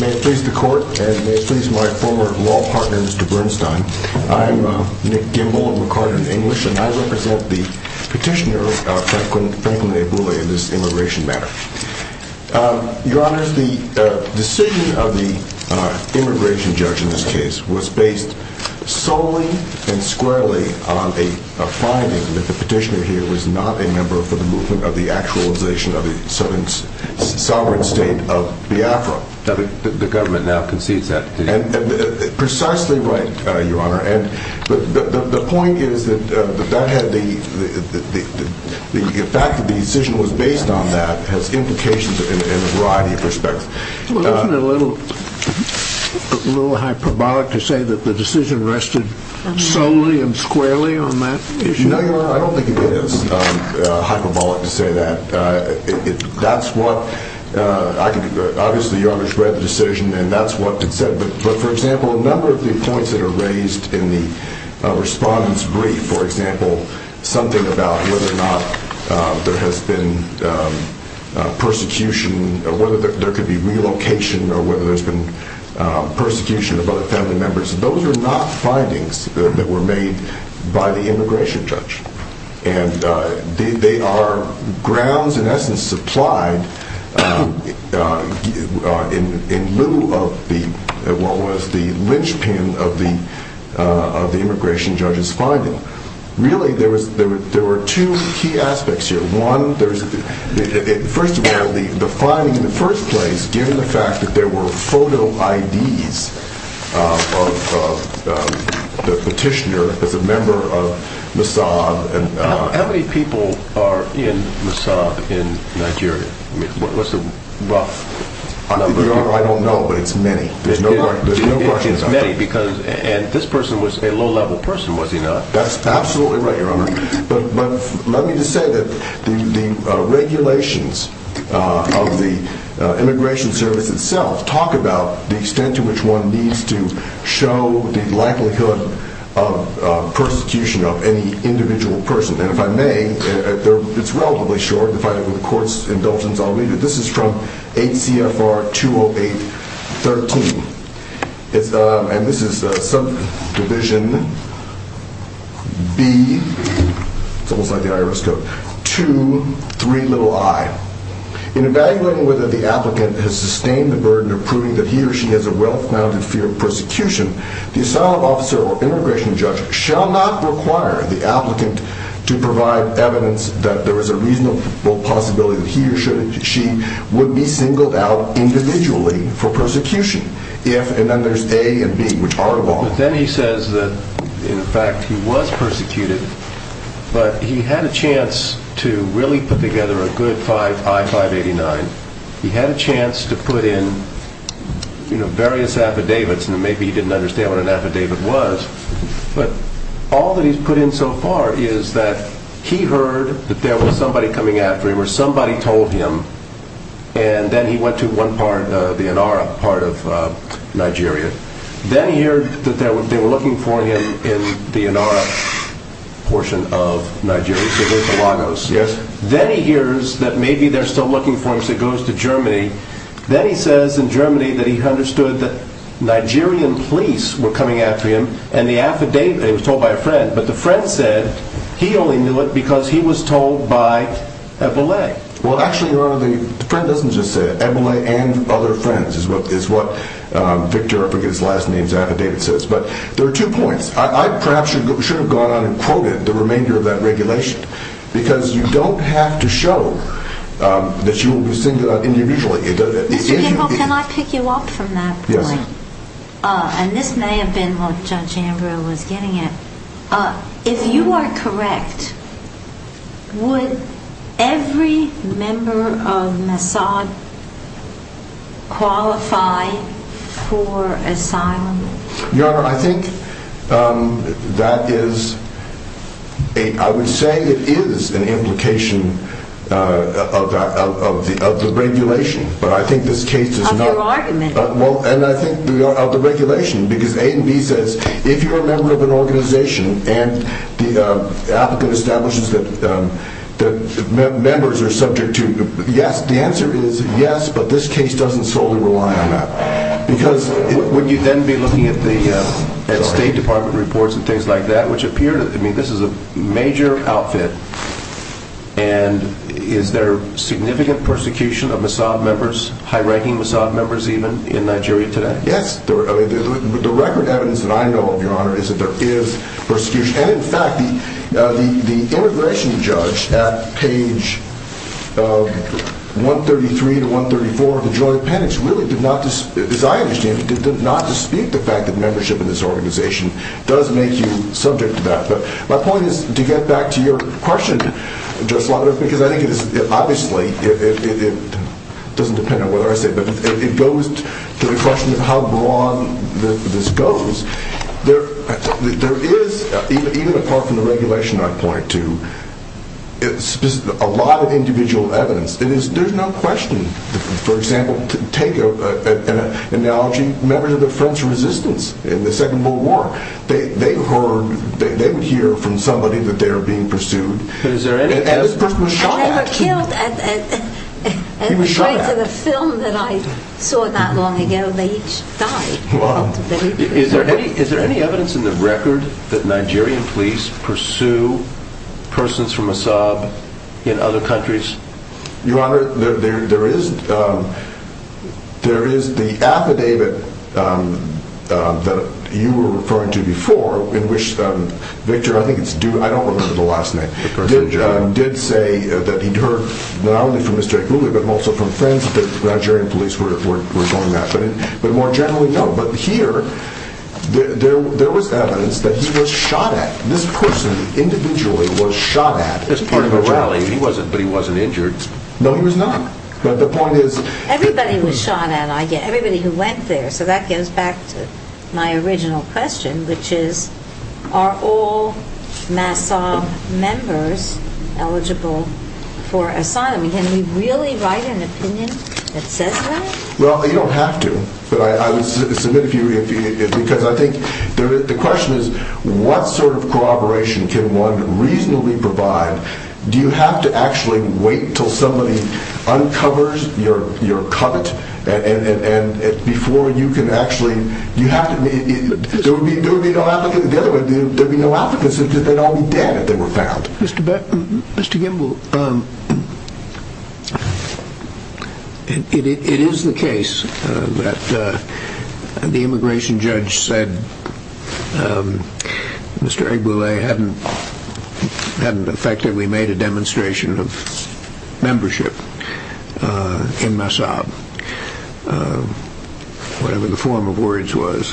May it please the Court, and may it please my former law partner, Mr. Bernstein. I'm Nick Gimble, I'm recording in English, and I represent the petitioner, Franklin Ebule, in this immigration matter. Your Honor, the decision of the immigration judge in this case was based solely and squarely on a finding that the petitioner here was not a member of the movement of the actualization of the sovereign state of Biafra. The government now concedes that. Precisely right, Your Honor. But the point is that the fact that the decision was based on that has implications in a variety of respects. Well, isn't it a little hyperbolic to say that the decision rested solely and squarely on that issue? No, Your Honor, I don't think it is hyperbolic to say that. Obviously, Your Honor's read the decision and that's what it said, but for example, a number of the points that are raised in the respondent's brief, for example, something about whether or not there has been persecution, or whether there could be relocation, or whether there's been persecution of other family members, those are not findings that were made by the immigration judge. And they are grounds, in essence, supplied in lieu of what was the linchpin of the immigration judge's finding. Really, there were two key aspects here. One, first of all, the finding in the first place, given the fact that there were photo IDs of the petitioner as a member of Mossad. How many people are in Mossad in Nigeria? What's the rough number? I don't know, but it's many. There's no question about it. It's many, and this person was a low-level person, was he not? That's absolutely right, Your Honor. But let me just say that the regulations of the Immigration Service itself talk about the extent to which one needs to show the likelihood of persecution of any individual person. And if I may, it's relatively short. If I have a court's indulgence, I'll read it. This is from HCFR 208-13. And this is subdivision B, it's almost like the IRS code, 2-3-i. In evaluating whether the applicant has sustained the burden of proving that he or she has a well-founded fear of persecution, the asylum officer or immigration judge shall not require the applicant to provide evidence that there is a reasonable possibility that he or she would be singled out individually for persecution. And then there's A and B, which are involved. But then he says that, in fact, he was persecuted, but he had a chance to really put together a good I-589. He had a chance to put in various affidavits, and maybe he didn't understand what an affidavit was, but all that he's put in so far is that he heard that there was somebody coming after him, or somebody told him, and then he went to one part, the Inara part of Nigeria. Then he heard that they were looking for him in the Inara portion of Nigeria, so there's the Lagos. Then he hears that maybe they're still looking for him, so he goes to Germany. Then he says in Germany that he understood that Nigerian police were coming after him, and the affidavit, it was told by a friend, but the friend said he only knew it because he was told by Ebele. Well, actually, Your Honor, the friend doesn't just say it. Ebele and other friends is what Victor, I forget his last name, his affidavit says. But there are two points. I perhaps should have gone on and quoted the remainder of that regulation, because you don't have to show that you will be singled out individually. Mr. Gable, can I pick you up from that point? Yes. And this may have been what Judge Ambrose was getting at. If you are correct, would every member of Mossad qualify for asylum? Your Honor, I think that is, I would say it is an implication of the regulation, but I think this case is not. Of your argument. Well, and I think of the regulation, because A and B says, if you're a member of an organization and the applicant establishes that members are subject to, yes, the answer is yes, but this case doesn't solely rely on that. Would you then be looking at the State Department reports and things like that, which appear to, I mean, this is a major outfit, and is there significant persecution of Mossad members, high-ranking Mossad members even, in Nigeria today? Yes. The record evidence that I know of, Your Honor, is that there is persecution. And in the immigration judge at page 133 to 134 of the joint appendix really did not, as I understand it, did not dispute the fact that membership in this organization does make you subject to that. But my point is, to get back to your question, Judge Slavitt, because I think it is, obviously, it doesn't depend on what I say, but it goes to the question of how broad this goes. There is, even apart from the regulation I point to, a lot of individual evidence. There's no question, for example, to take an analogy, members of the French Resistance in the Second World War, they heard, they would hear from somebody that they were being pursued, and the person was shot at. And according to the film that I saw that long ago, they each died. Is there any evidence in the record that Nigerian police pursue persons from Mossad in other countries? Your Honor, there is the affidavit that you were referring to before in which Victor, I don't remember the last name, did say that he heard not only from Mr. Akulu, but also from friends that Nigerian police were doing that. But more generally, no. But here, there was evidence that he was shot at. This person, individually, was shot at. As part of a rally. He wasn't injured. No, he was not. But the point is... Everybody was shot at. Everybody who went there. So that goes back to my original question, which is, are all Mossad members eligible for asylum? Can we really write an opinion that says that? Well, you don't have to. But I would submit a few, because I think the question is, what sort of corroboration can one reasonably provide? Do you have to actually wait until somebody uncovers your covet? And before you can actually... There would be no applicants. They'd all be dead if they were found. Mr. Gimbel, it is the case that the immigration judge said Mr. Akulu hadn't effectively made a demonstration of membership in Mossad. Whatever the form of words was.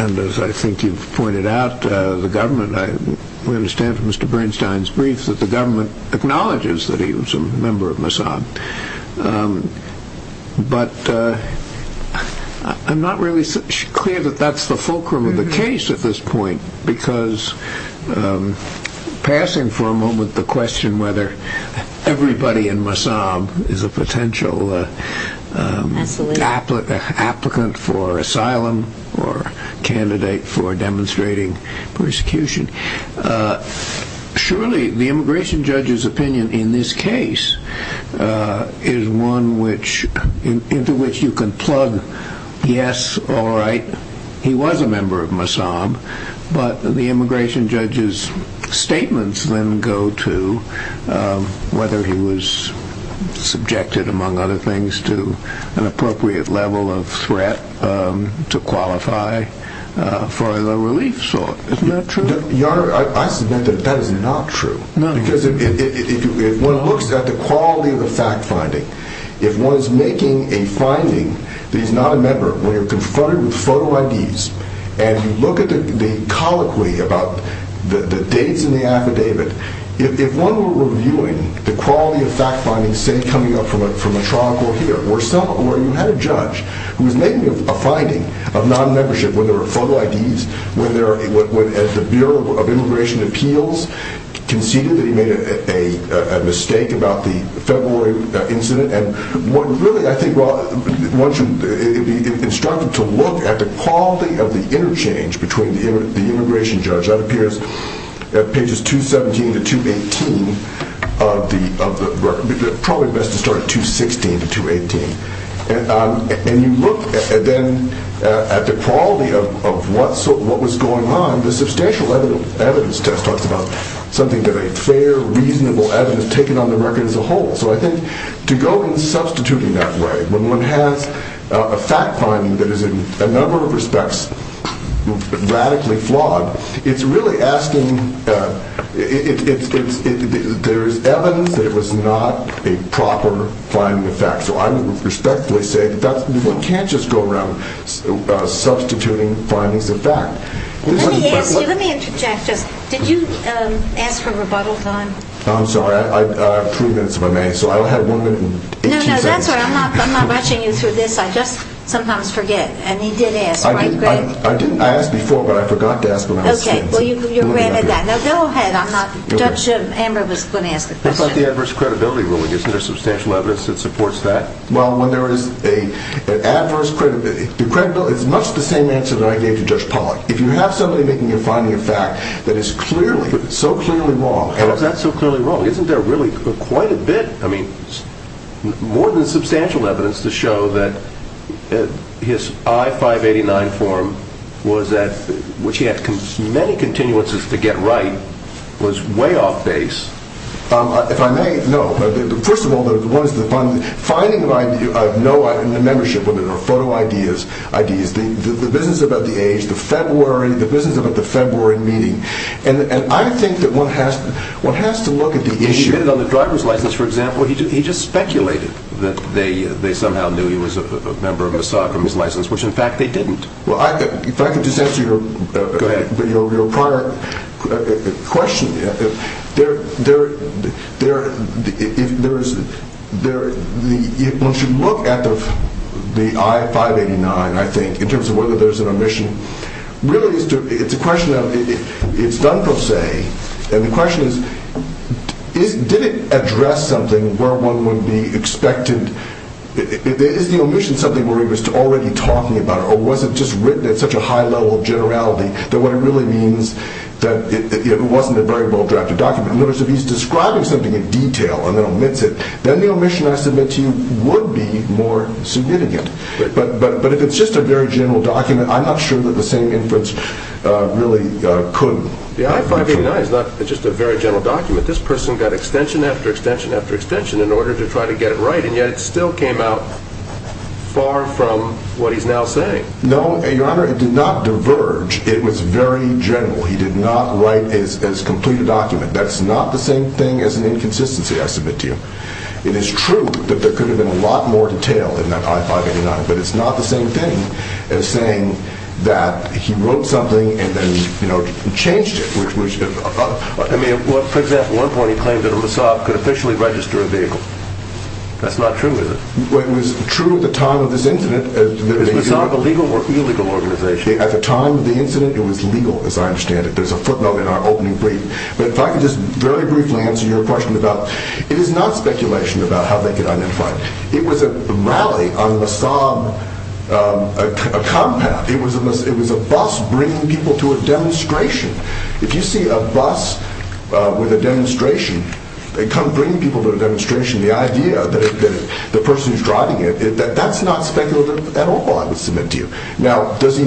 And as I think you've pointed out, the government... We understand from Mr. Bernstein's brief that the government acknowledges that he was a member of Mossad. But I'm not really clear that that's the fulcrum of the case at this point, because passing for a moment the question whether everybody in Mossad is a potential applicant for asylum or candidate for demonstrating persecution, surely the immigration judge's opinion in this case is one into which you can plug, yes, all right, he was a member of Mossad. But the immigration judge's statements then go to whether he was subjected, among other things, to an appropriate level of threat to qualify for the relief sort. Isn't that true? Your Honor, I submit that that is not true. Because if one looks at the quality of the fact-finding, if one is making a finding that he's not a member, when you're confronted with photo IDs, and you look at the colloquy about the dates in the affidavit, if one were reviewing the quality of fact-finding, say coming up from a trial court here, where you had a judge who was making a finding of non-membership when there were photo IDs, when the Bureau of Immigration Appeals conceded that he made a mistake about the February incident, and one should be instructed to look at the quality of the interchange between the immigration judge. That appears at pages 217 to 218 of the record. Probably best to start at 216 to 218. And you look then at the quality of what was going on. The substantial evidence test talks about something that a fair, reasonable evidence taken on the record as a whole. So I think to go in substituting that way, when one has a fact-finding that is in a number of respects radically flawed, it's really asking, there is evidence that it was not a proper finding of fact. So I would respectfully say that one can't just go around substituting findings of fact. Let me ask you, let me interject just, did you ask for rebuttal time? I'm sorry, I have three minutes if I may. So I only have one minute and 18 seconds. No, no, that's all right. I'm not rushing you through this. I just sometimes forget. And you did ask, right Greg? I didn't, I asked before, but I forgot to ask when I was sequencing. Okay, well you're granted that. Now go ahead, I'm not, Judge Amber was going to ask the question. What about the adverse credibility ruling? Isn't there substantial evidence that supports that? Well, when there is an adverse credibility, it's much the same answer that I gave to Judge Pollack. If you have somebody making a finding of fact that is clearly, so clearly wrong. How is that so clearly wrong? Isn't there really quite a bit, I mean, more than substantial evidence to show that his I-589 form was at, which he had many continuances to get right, was way off base. If I may, no. First of all, the one is the finding of idea, I have no idea, the membership of it, or photo ideas, the business about the age, the February, the business about the February meeting. And I think that one has to look at the issue. He did it on the driver's license, for example. He just speculated that they somehow knew he was a member of Mossad from his license, which in fact they didn't. Well, if I could just answer your prior question, once you look at the I-589, I think, in terms of whether there's an omission, really it's a question of, it's done per se, and the question is, did it address something where one would be expected, is the omission something where he was already talking about it, or was it just written at such a high level of generality, that what it really means, that it wasn't a very well-drafted document. In other words, if he's describing something in detail and then omits it, then the omission, I submit to you, would be more significant. But if it's just a very general document, I'm not sure that the same inference really could be true. The I-589 is not just a very general document. This person got extension after extension after extension in order to try to get it right, and yet it still came out far from what he's now saying. No, Your Honor, it did not diverge. It was very general. He did not write as complete a document. That's not the same thing as an inconsistency, I submit to you. It is true that there could have been a lot more detail in that I-589, but it's not the same thing as saying that he wrote something and then changed it. For example, at one point he claimed that a Mossad could officially register a vehicle. That's not true, is it? It was true at the time of this incident. Is Mossad a legal or illegal organization? At the time of the incident, it was legal, as I understand it. There's a footnote in our opening brief. But if I could just very briefly answer your question about, it is not speculation about how they could identify it. It was a rally on a Mossad compound. It was a bus bringing people to a demonstration. If you see a bus with a demonstration, they come bring people to a demonstration. The idea that the person who's driving it, that's not speculative at all, I would submit to you. Now, does he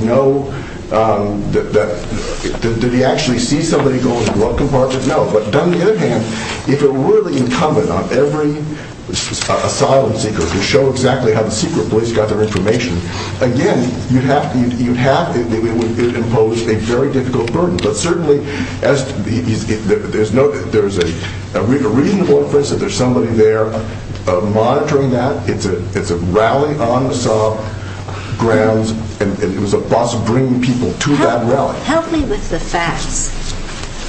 know that, did he actually see somebody go into the glove compartment? No. But on the other hand, if it were really incumbent on every asylum seeker to show exactly how the secret police got their information, again, it would impose a very difficult burden. But certainly, there's a reasonable inference that there's somebody there monitoring that. It's a rally on Mossad grounds, and it was a bus bringing people to that rally. Help me with the facts.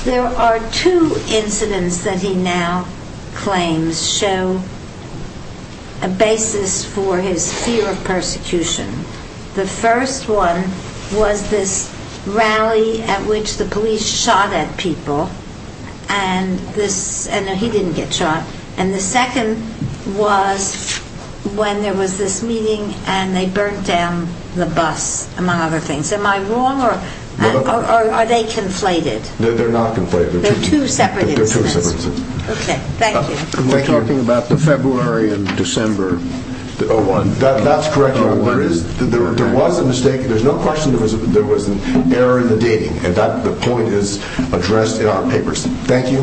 There are two incidents that he now claims show a basis for his fear of persecution. The first one was this rally at which the police shot at people, and he didn't get shot. And the second was when there was this meeting and they burnt down the bus, among other things. Am I wrong, or are they conflated? They're not conflated. They're two separate incidents. They're two separate incidents. Okay, thank you. We're talking about the February and December 01. That's correct, Your Honor. There was a mistake. There's no question there was an error in the dating, and that point is addressed in our papers. Thank you.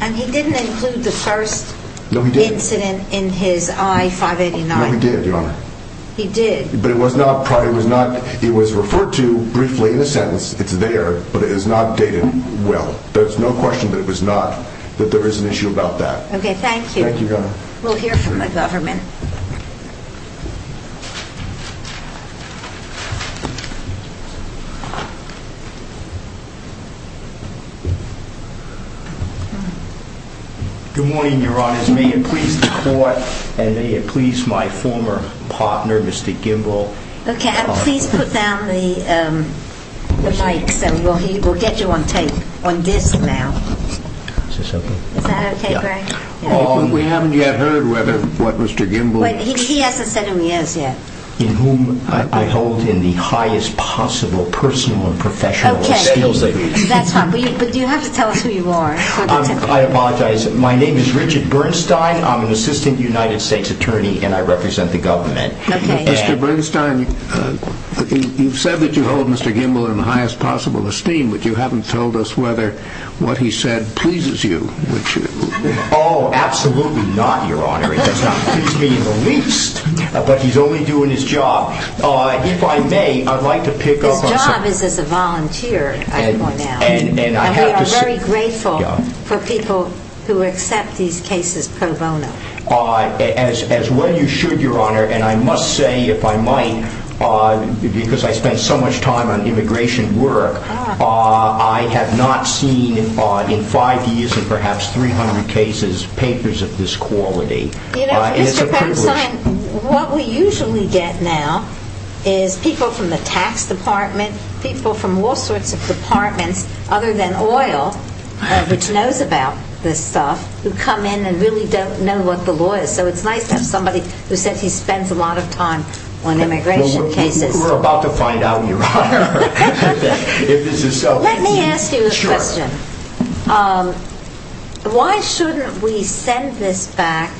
And he didn't include the first incident in his I-589. No, he did, Your Honor. He did. But it was referred to briefly in the sentence. It's there, but it is not dated well. There's no question that there is an issue about that. Okay, thank you. Thank you, Your Honor. We'll hear from the government. Good morning, Your Honors. May it please the Court, and may it please my former partner, Mr. Gimbel. Okay, please put down the mic so we'll get you on tape on this now. Is this okay? Is that okay, Greg? We haven't yet heard what Mr. Gimbel... He hasn't said who he is yet. In whom I hold in the highest possible personal and professional skills that he has. Okay, that's fine. But you have to tell us who you are. I apologize. My name is Richard Bernstein. I'm an assistant United States attorney, and I represent the government. Okay. Mr. Bernstein, you've said that you hold Mr. Gimbel in the highest possible esteem, but you haven't told us whether what he said pleases you. Oh, absolutely not, Your Honor. It does not please me in the least, but he's only doing his job. If I may, I'd like to pick up on something. His job is as a volunteer at Cornell, and we are very grateful for people who accept these cases pro bono. As well you should, Your Honor. And I must say, if I might, because I spend so much time on immigration work, I have not seen in five years and perhaps 300 cases, papers of this quality. You know, Mr. Bernstein, what we usually get now is people from the tax department, people from all sorts of departments other than oil, which knows about this stuff, who come in and really don't know what the law is. So it's nice to have somebody who says he spends a lot of time on immigration cases. We're about to find out, Your Honor, if this is so. Let me ask you a question. Sure. Why shouldn't we send this back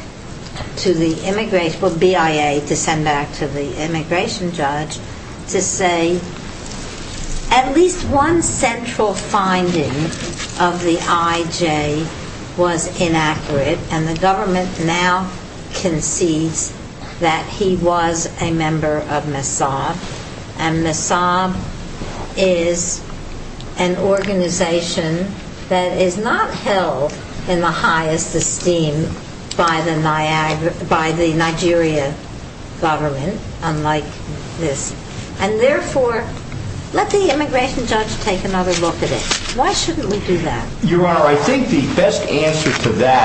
to the immigration, well, BIA to send back to the immigration judge, to say at least one central finding of the IJ was inaccurate and the government now concedes that he was a member of MESAB, and MESAB is an organization that is not held in the highest esteem by the Nigeria government, unlike this, and therefore let the immigration judge take another look at it. Why shouldn't we do that? Your Honor, I think the best answer to that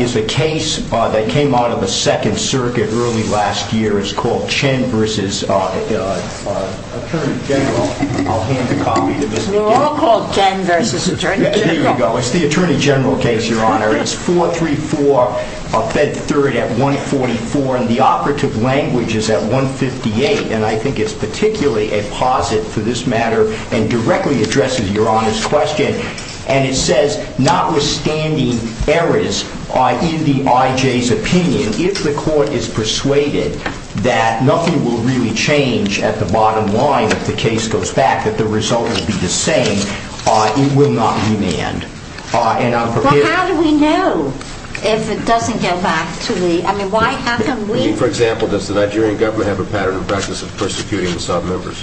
is a case that came out of the Second Circuit early last year. It's called Chen v. Attorney General. I'll hand the copy to Ms. McGill. They're all called Chen v. Attorney General. Here we go. It's the Attorney General case, Your Honor. It's 434, fed 3rd at 144, and the operative language is at 158, and I think it's particularly a posit for this matter and directly addresses Your Honor's question. And it says, notwithstanding errors in the IJ's opinion, if the court is persuaded that nothing will really change at the bottom line if the case goes back, that the result will be the same, it will not be manned. Well, how do we know if it doesn't get back to the, I mean, why can't we? For example, does the Nigerian government have a pattern of practice of persecuting MESAB members?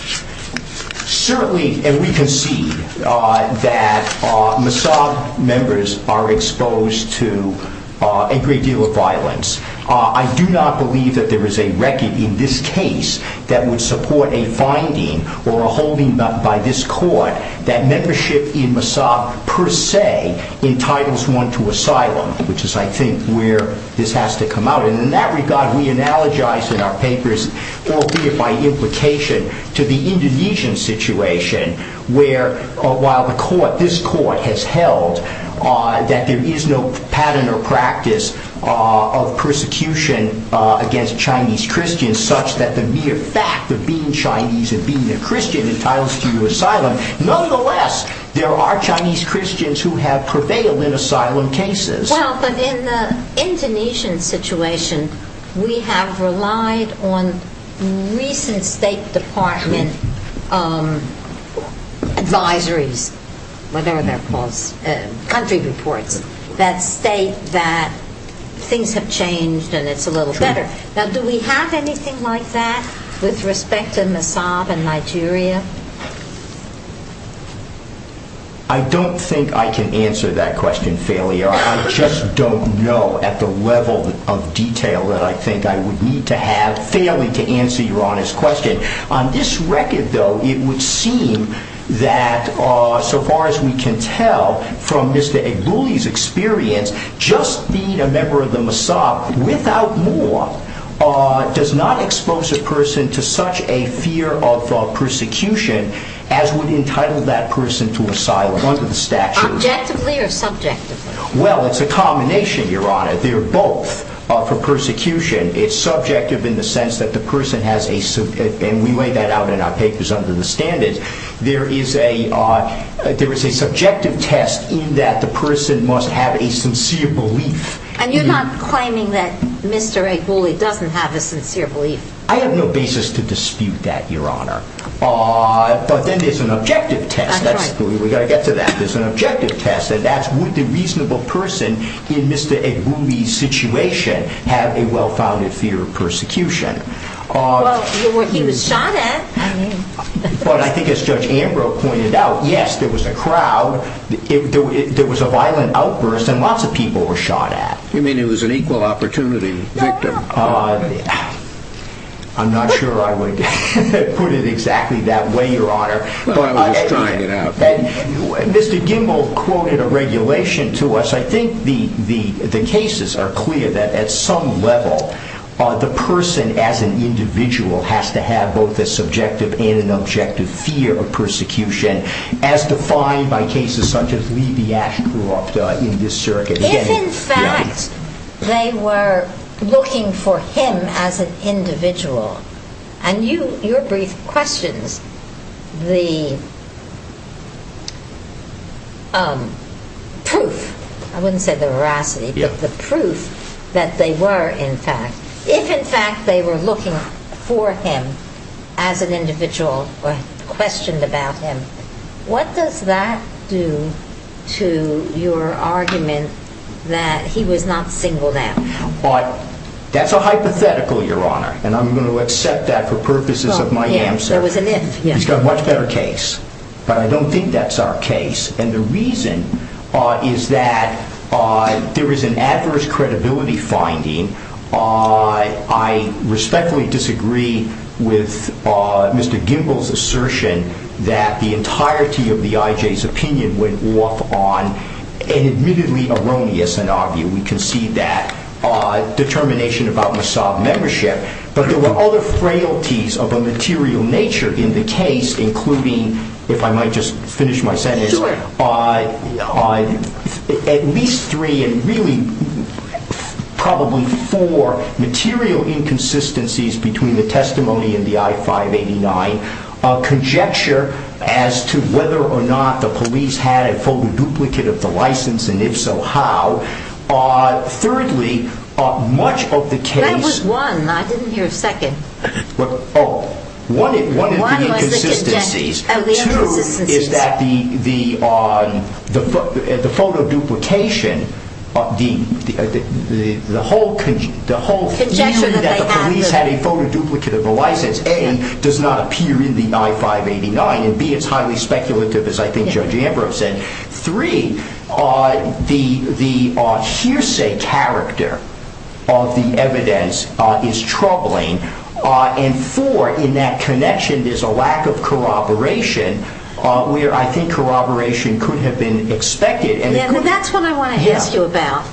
Certainly, and we can see that MESAB members are exposed to a great deal of violence. I do not believe that there is a record in this case that would support a finding or a holding by this court that membership in MESAB per se entitles one to asylum, which is, I think, where this has to come out. And in that regard, we analogize in our papers, albeit by implication, to the Indonesian situation where, while the court, this court, has held that there is no pattern or practice of persecution against Chinese Christians such that the mere fact of being Chinese and being a Christian entitles to you asylum, nonetheless, there are Chinese Christians who have prevailed in asylum cases. Well, but in the Indonesian situation, we have relied on recent State Department advisories, whatever they're called, country reports, that state that things have changed and it's a little better. Now, do we have anything like that with respect to MESAB in Nigeria? I don't think I can answer that question fairly. I just don't know at the level of detail that I think I would need to have fairly to answer your honest question. On this record, though, it would seem that, so far as we can tell, from Mr. Egbuli's experience, just being a member of the MESAB, without more, does not expose a person to such a fear of persecution as would entitle that person to asylum under the statute. Objectively or subjectively? Well, it's a combination, Your Honor. They're both for persecution. It's subjective in the sense that the person has a, and we laid that out in our papers under the standards, there is a subjective test in that the person must have a sincere belief. And you're not claiming that Mr. Egbuli doesn't have a sincere belief? I have no basis to dispute that, Your Honor. But then there's an objective test. We've got to get to that. There's an objective test, and that's would the reasonable person in Mr. Egbuli's situation have a well-founded fear of persecution. Well, he was shot at. But I think as Judge Ambrose pointed out, yes, there was a crowd. There was a violent outburst, and lots of people were shot at. You mean he was an equal opportunity victim? I'm not sure I would put it exactly that way, Your Honor. Well, I was just trying it out. Mr. Gimbel quoted a regulation to us. I think the cases are clear that at some level, the person as an individual has to have both a subjective and an objective fear of persecution. As defined by cases such as Levi Ashcroft in this circuit. If in fact they were looking for him as an individual, and your brief questions, the proof, I wouldn't say the veracity, but the proof that they were in fact, If in fact they were looking for him as an individual or questioned about him, what does that do to your argument that he was not single now? That's a hypothetical, Your Honor, and I'm going to accept that for purposes of my answer. There was an if. He's got a much better case. But I don't think that's our case. And the reason is that there is an adverse credibility finding. I respectfully disagree with Mr. Gimbel's assertion that the entirety of the IJ's opinion went off on an admittedly erroneous and obvious. We concede that determination about Mossad membership. But there were other frailties of a material nature in the case, including, if I might just finish my sentence, at least three and really probably four material inconsistencies between the testimony and the I-589. Conjecture as to whether or not the police had a duplicate of the license, and if so, how. Thirdly, much of the case. That was one. I didn't hear a second. One of the inconsistencies. Two is that the photo duplication, the whole conjecture that the police had a photo duplicate of the license, A, does not appear in the I-589. And B, it's highly speculative, as I think Judge Ambrose said. Three, the hearsay character of the evidence is troubling. And four, in that connection, there's a lack of corroboration, where I think corroboration could have been expected. Well, that's what I want to ask you about.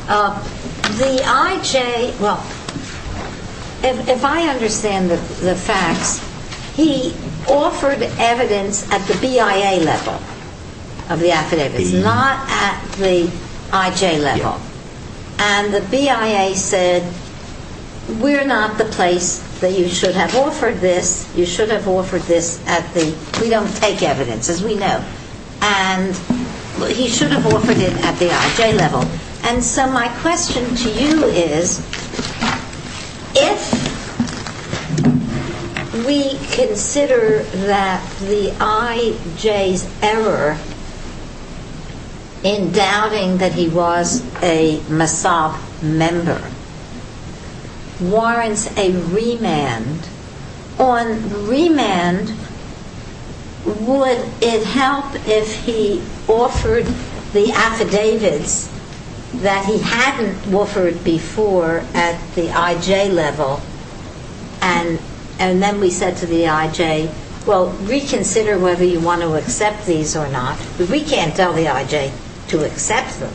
The IJ, well, if I understand the facts, he offered evidence at the BIA level of the affidavits, not at the IJ level. And the BIA said, we're not the place that you should have offered this. You should have offered this at the, we don't take evidence, as we know. And he should have offered it at the IJ level. And so my question to you is, if we consider that the IJ's error in doubting that he was a Mossad member warrants a remand, on remand, would it help if he offered the affidavits that he hadn't offered before at the IJ level? And then we said to the IJ, well, reconsider whether you want to accept these or not. We can't tell the IJ to accept them,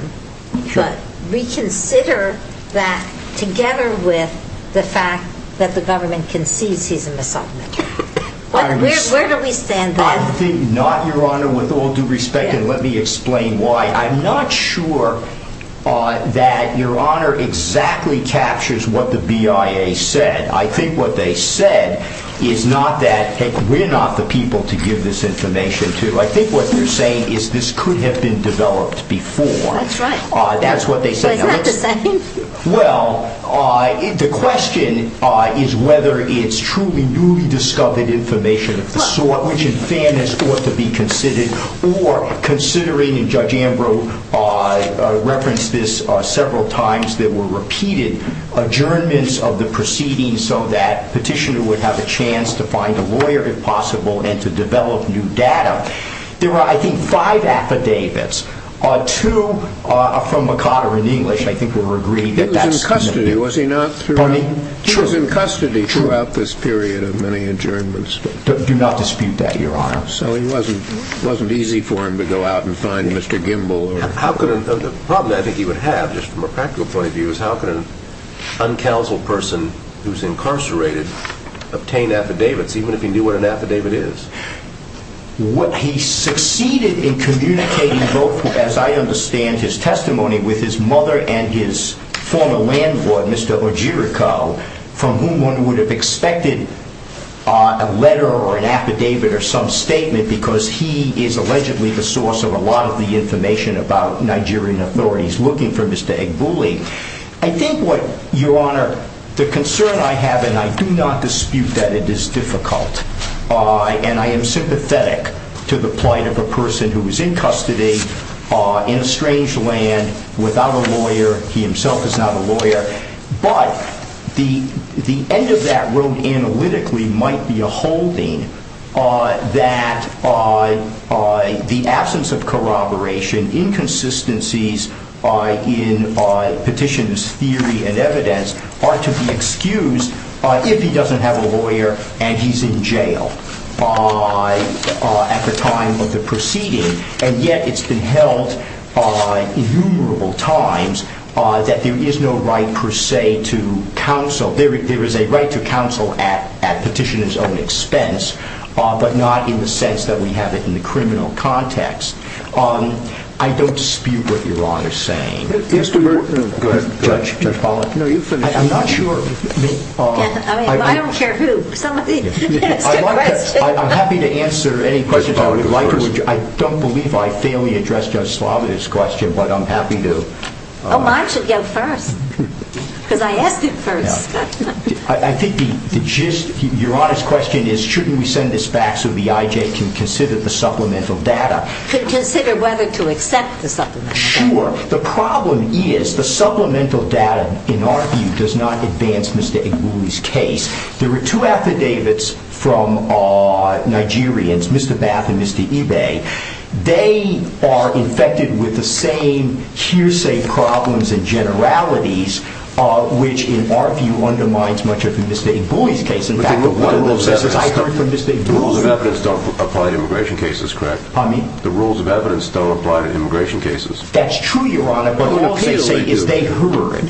but reconsider that together with the fact that the government concedes he's a Mossad member. Where do we stand on that? I think not, Your Honor, with all due respect. And let me explain why. I'm not sure that Your Honor exactly captures what the BIA said. I think what they said is not that, hey, we're not the people to give this information to. I think what they're saying is this could have been developed before. That's right. That's what they said. So is that the same? Well, the question is whether it's truly newly discovered information of the sort, which in fairness ought to be considered, or considering, and Judge Ambrose referenced this several times, that were repeated adjournments of the proceedings so that petitioner would have a chance to find a lawyer, if possible, and to develop new data. There were, I think, five affidavits. Two are from McCotter in English. I think we were agreed that that's the one. He was in custody, was he not? Pardon me? He was in custody throughout this period of many adjournments. Do not dispute that, Your Honor. So it wasn't easy for him to go out and find Mr. Gimbel. The problem I think he would have, just from a practical point of view, is how could an uncounseled person who's incarcerated obtain affidavits, even if he knew what an affidavit is? He succeeded in communicating both, as I understand his testimony, with his mother and his former landlord, Mr. Ogierico, from whom one would have expected a letter or an affidavit or some statement because he is allegedly the source of a lot of the information about Nigerian authorities looking for Mr. Egbuli. I think what, Your Honor, the concern I have, and I do not dispute that it is difficult, and I am sympathetic to the plight of a person who is in custody in a strange land without a lawyer. He himself is not a lawyer. But the end of that road analytically might be a holding that the absence of corroboration, inconsistencies in petition's theory and evidence are to be excused if he doesn't have a lawyer and he's in jail at the time of the proceeding. And yet it's been held innumerable times that there is no right per se to counsel. There is a right to counsel at petitioner's own expense, but not in the sense that we have it in the criminal context. I don't dispute what Your Honor is saying. Judge Pollack? I'm not sure. I don't care who. I'm happy to answer any questions I would like to. I don't believe I fairly addressed Judge Slavitt's question, but I'm happy to. Oh, I should go first, because I asked it first. I think the gist, Your Honor's question, is shouldn't we send this back so the IJ can consider the supplemental data? To consider whether to accept the supplemental data. Sure. The problem is the supplemental data, in our view, does not advance Mr. Egbuli's case. There were two affidavits from Nigerians, Mr. Bath and Mr. Ibe. They are infected with the same hearsay problems and generalities, which in our view undermines much of Mr. Egbuli's case. In fact, one of them says, I heard from Mr. Egbuli. The rules of evidence don't apply to immigration cases, correct? Pardon me? The rules of evidence don't apply to immigration cases. That's true, Your Honor, but the rule of hearsay is they heard.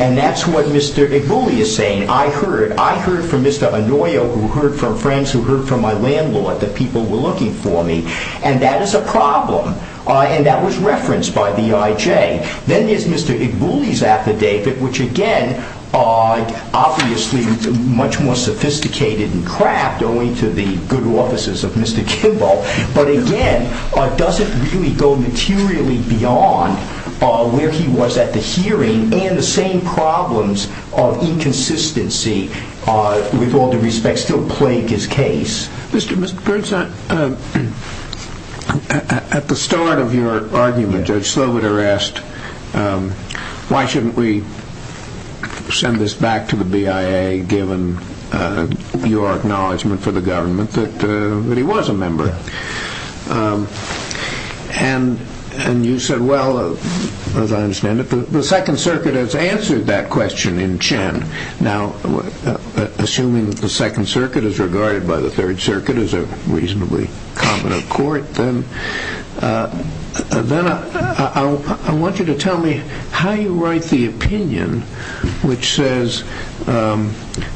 And that's what Mr. Egbuli is saying, I heard. I heard from Mr. Onoyo, who heard from friends who heard from my landlord, that people were looking for me. And that is a problem. And that was referenced by the IJ. Then there's Mr. Egbuli's affidavit, which again, obviously much more sophisticated and crap, going to the good offices of Mr. Kimball, but again, doesn't really go materially beyond where he was at the hearing and the same problems of inconsistency, with all due respect, still plague his case. Mr. Burns, at the start of your argument, Judge Sloboda asked, why shouldn't we send this back to the BIA, given your acknowledgement for the government that he was a member? And you said, well, as I understand it, the Second Circuit has answered that question in Chen. Now, assuming the Second Circuit is regarded by the Third Circuit as a reasonably common accord, then I want you to tell me how you write the opinion, which says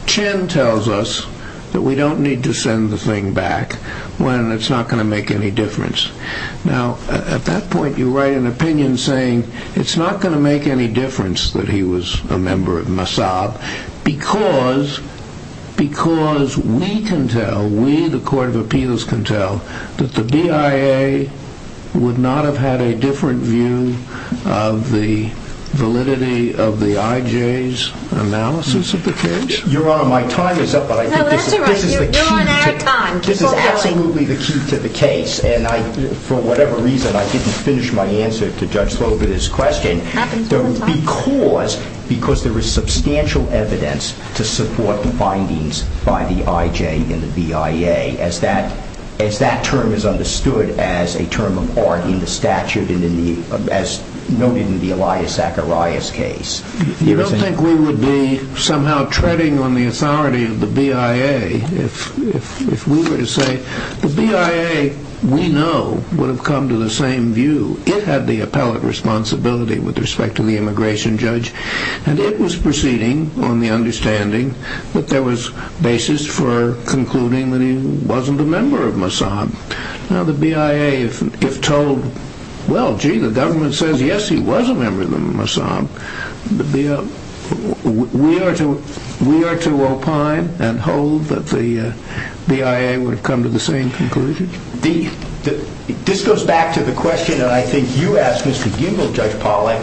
Chen tells us that we don't need to send the thing back, when it's not going to make any difference. Now, at that point, you write an opinion saying it's not going to make any difference that he was a member of Mossad, because we can tell, we, the Court of Appeals can tell, that the BIA would not have had a different view of the validity of the IJ's analysis of the case? Your Honor, my time is up, but I think this is the key to the case, and for whatever reason, I didn't finish my answer to Judge Sloboda's question, because there is substantial evidence to support the findings by the IJ and the BIA, as that term is understood as a term of art in the statute, as noted in the Elias Zacharias case. You don't think we would be somehow treading on the authority of the BIA, if we were to say the BIA, we know, would have come to the same view. It had the appellate responsibility with respect to the immigration judge, and it was proceeding on the understanding that there was basis for concluding that he wasn't a member of Mossad. Now, the BIA, if told, well, gee, the government says, yes, he was a member of Mossad, we are to opine and hold that the BIA would have come to the same conclusion? This goes back to the question that I think you asked, Mr. Gingell, Judge Pollack,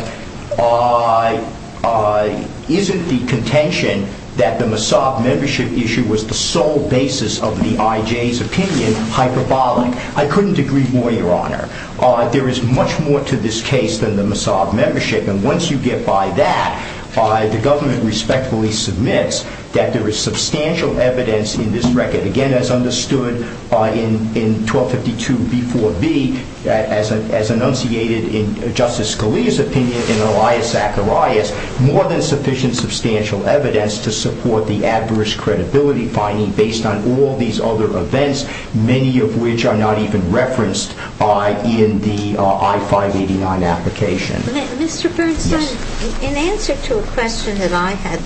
isn't the contention that the Mossad membership issue was the sole basis of the IJ's opinion hyperbolic? I couldn't agree more, Your Honor. There is much more to this case than the Mossad membership, and once you get by that, the government respectfully submits that there is substantial evidence in this record, again, as understood in 1252b4b, as enunciated in Justice Scalia's opinion in Elias Zacharias, more than sufficient substantial evidence to support the adverse credibility finding based on all these other events, many of which are not even referenced in the I-589 application. Mr. Bernstein, in answer to a question that I had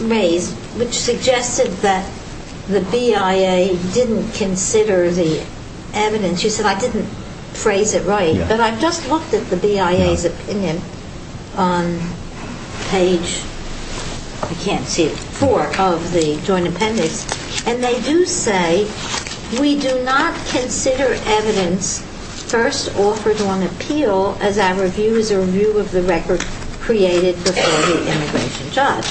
raised, which suggested that the BIA didn't consider the evidence, you said I didn't phrase it right, but I've just looked at the BIA's opinion on page, I can't see it, four of the joint appendix, and they do say, we do not consider evidence first offered on appeal as our review is a review of the record created before the immigration judge.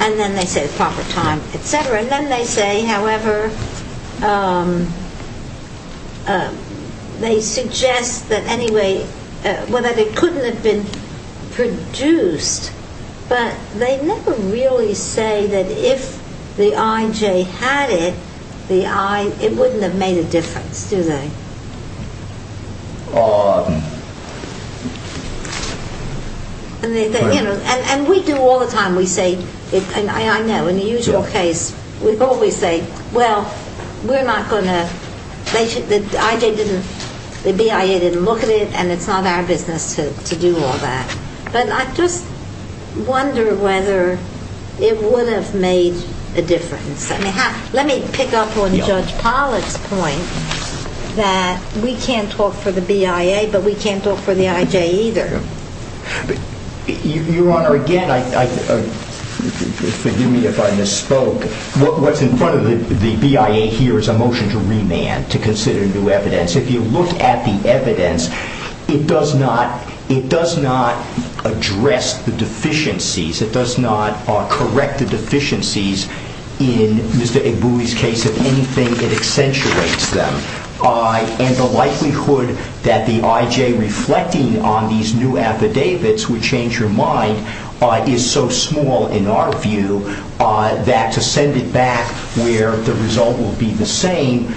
And then they say the proper time, etc. And then they say, however, they suggest that anyway, well, that it couldn't have been produced, but they never really say that if the IJ had it, it wouldn't have made a difference, do they? And we do all the time, we say, I know, in the usual case, we always say, well, we're not going to, the IJ didn't, the BIA didn't look at it, and it's not our business to do all that. But I just wonder whether it would have made a difference. Let me pick up on Judge Pollack's point that we can't talk for the BIA, but we can't talk for the IJ either. Your Honor, again, forgive me if I misspoke. What's in front of the BIA here is a motion to remand, to consider new evidence. If you look at the evidence, it does not address the deficiencies. It does not correct the deficiencies in Mr. Igbui's case. If anything, it accentuates them. And the likelihood that the IJ reflecting on these new affidavits would change your mind is so small in our view that to send it back where the result will be the same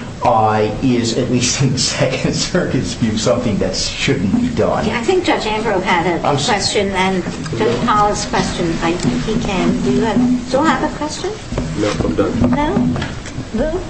is, at least in the Second Circuit's view, something that shouldn't be done. I think Judge Ambrose had a question, and Judge Pollack's question, I think he can. Do you still have a question? No, I'm done. No? No?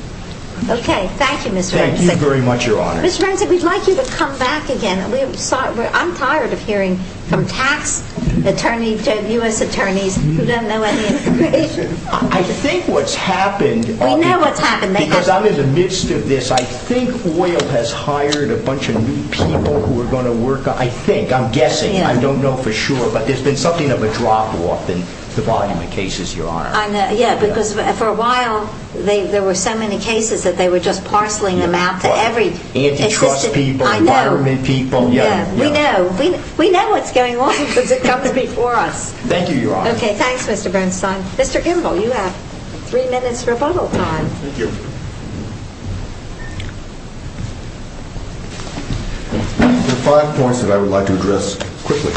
Okay. Thank you, Mr. Ramsey. Thank you very much, Your Honor. Mr. Ramsey, we'd like you to come back again. I'm tired of hearing from tax attorneys to U.S. attorneys who don't know any information. I think what's happened— We know what's happened. Because I'm in the midst of this. I think OIL has hired a bunch of new people who are going to work on—I think, I'm guessing. I don't know for sure, but there's been something of a drop-off in the volume of cases, Your Honor. Yeah, because for a while, there were so many cases that they were just parceling them out to every— Yeah, we know. We know what's going on because it comes before us. Thank you, Your Honor. Okay, thanks, Mr. Bernstein. Mr. Gimbel, you have three minutes rebuttal time. Thank you. There are five points that I would like to address quickly.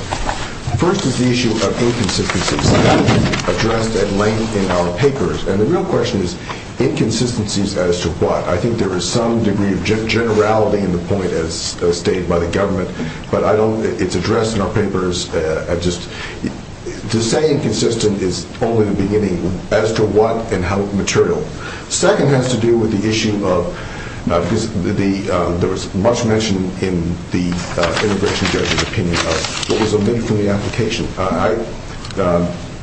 First is the issue of inconsistencies that have been addressed at length in our papers. And the real question is, inconsistencies as to what? I think there is some degree of generality in the point as stated by the government, but I don't—it's addressed in our papers as just— to say inconsistent is only the beginning as to what and how material. Second has to do with the issue of— because there was much mention in the immigration judge's opinion of what was omitted from the application. I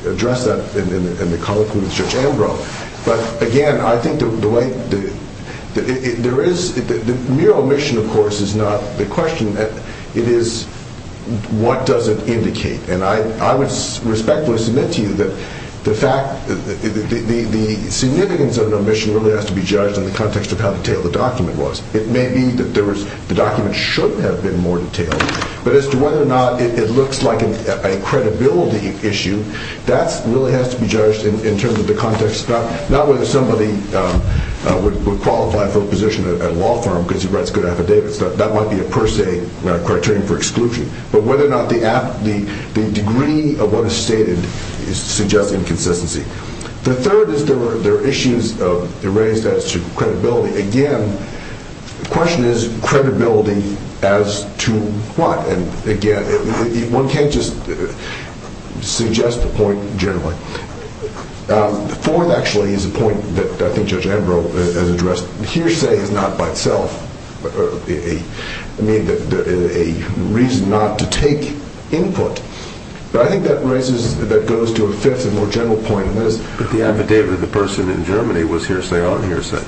addressed that in the colloquy with Judge Ambrose. But, again, I think the way—there is— mere omission, of course, is not the question. It is what does it indicate. And I would respectfully submit to you that the fact— the significance of an omission really has to be judged in the context of how detailed the document was. It may be that the document should have been more detailed, but as to whether or not it looks like a credibility issue, that really has to be judged in terms of the context. Not whether somebody would qualify for a position at a law firm because he writes good affidavits. That might be a per se criterion for exclusion. But whether or not the degree of what is stated suggests inconsistency. The third is there are issues raised as to credibility. Again, the question is credibility as to what? And, again, one can't just suggest a point generally. The fourth, actually, is a point that I think Judge Ambrose has addressed. Hearsay is not by itself a reason not to take input. But I think that raises—that goes to a fifth and more general point. But the affidavit of the person in Germany was hearsay on hearsay.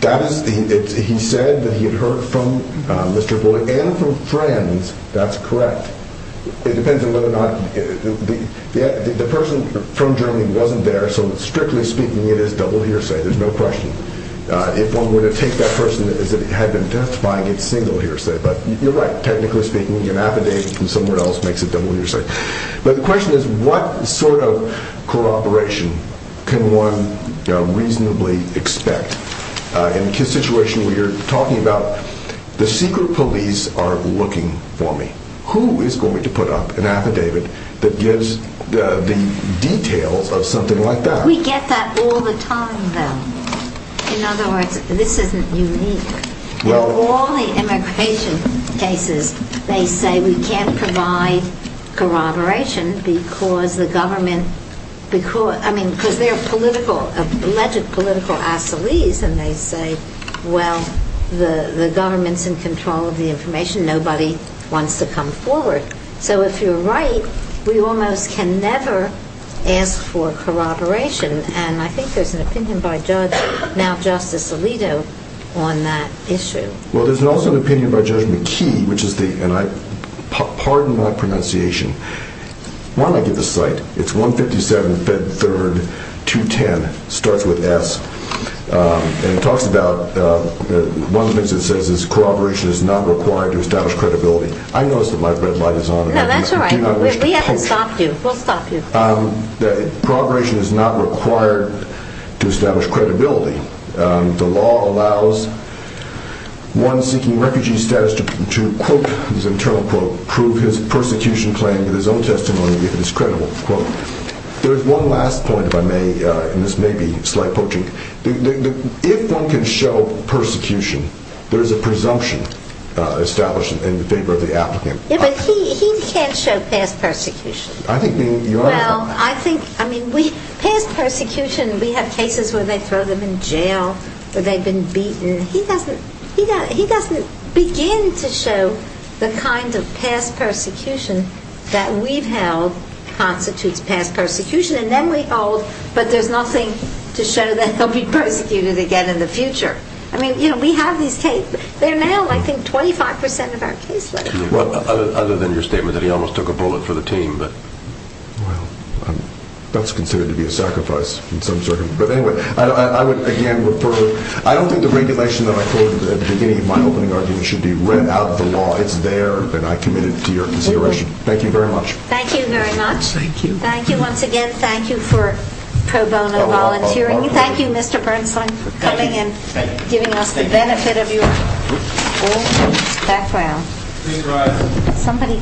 That is—he said that he had heard from Mr. Bullock and from friends. That's correct. It depends on whether or not—the person from Germany wasn't there, so strictly speaking, it is double hearsay. There's no question. If one were to take that person as if he had been testifying, it's single hearsay. But you're right. Technically speaking, an affidavit from somewhere else makes it double hearsay. But the question is what sort of corroboration can one reasonably expect? In a situation where you're talking about the secret police are looking for me, who is going to put up an affidavit that gives the details of something like that? We get that all the time, though. In other words, this isn't unique. In all the immigration cases, they say we can't provide corroboration because the government— I mean, because they're political—alleged political assilies, and they say, well, the government's in control of the information. Nobody wants to come forward. So if you're right, we almost can never ask for corroboration. And I think there's an opinion by Judge—now Justice Alito—on that issue. Well, there's also an opinion by Judge McKee, which is the—and I—pardon my pronunciation. Why don't I give the cite? It's 157 Fed 3rd, 210. Starts with S. And it talks about—one of the things it says is corroboration is not required to establish credibility. I notice that my red light is on. No, that's all right. We haven't stopped you. We'll stop you. Corroboration is not required to establish credibility. The law allows one seeking refugee status to, quote, his internal quote, prove his persecution claim with his own testimony if it is credible, quote. There's one last point, if I may, and this may be slight poaching. If one can show persecution, there's a presumption established in favor of the applicant. Yeah, but he can't show past persecution. I think the— Well, I think—I mean, we—past persecution, we have cases where they throw them in jail, where they've been beaten. He doesn't—he doesn't begin to show the kind of past persecution that we've held constitutes past persecution. And then we hold, but there's nothing to show that he'll be persecuted again in the future. I mean, you know, we have these tapes. They're now, I think, 25 percent of our case list. Well, other than your statement that he almost took a bullet for the team, but— Well, that's considered to be a sacrifice in some circumstances. But anyway, I would, again, refer—I don't think the regulation that I quoted at the beginning of my opening argument should be read out of the law. It's there, and I commit it to your consideration. Thank you very much. Thank you very much. Thank you. Thank you once again. Thank you for pro bono volunteering. Thank you, Mr. Bernstein, for coming and giving us the benefit of your background. Please rise.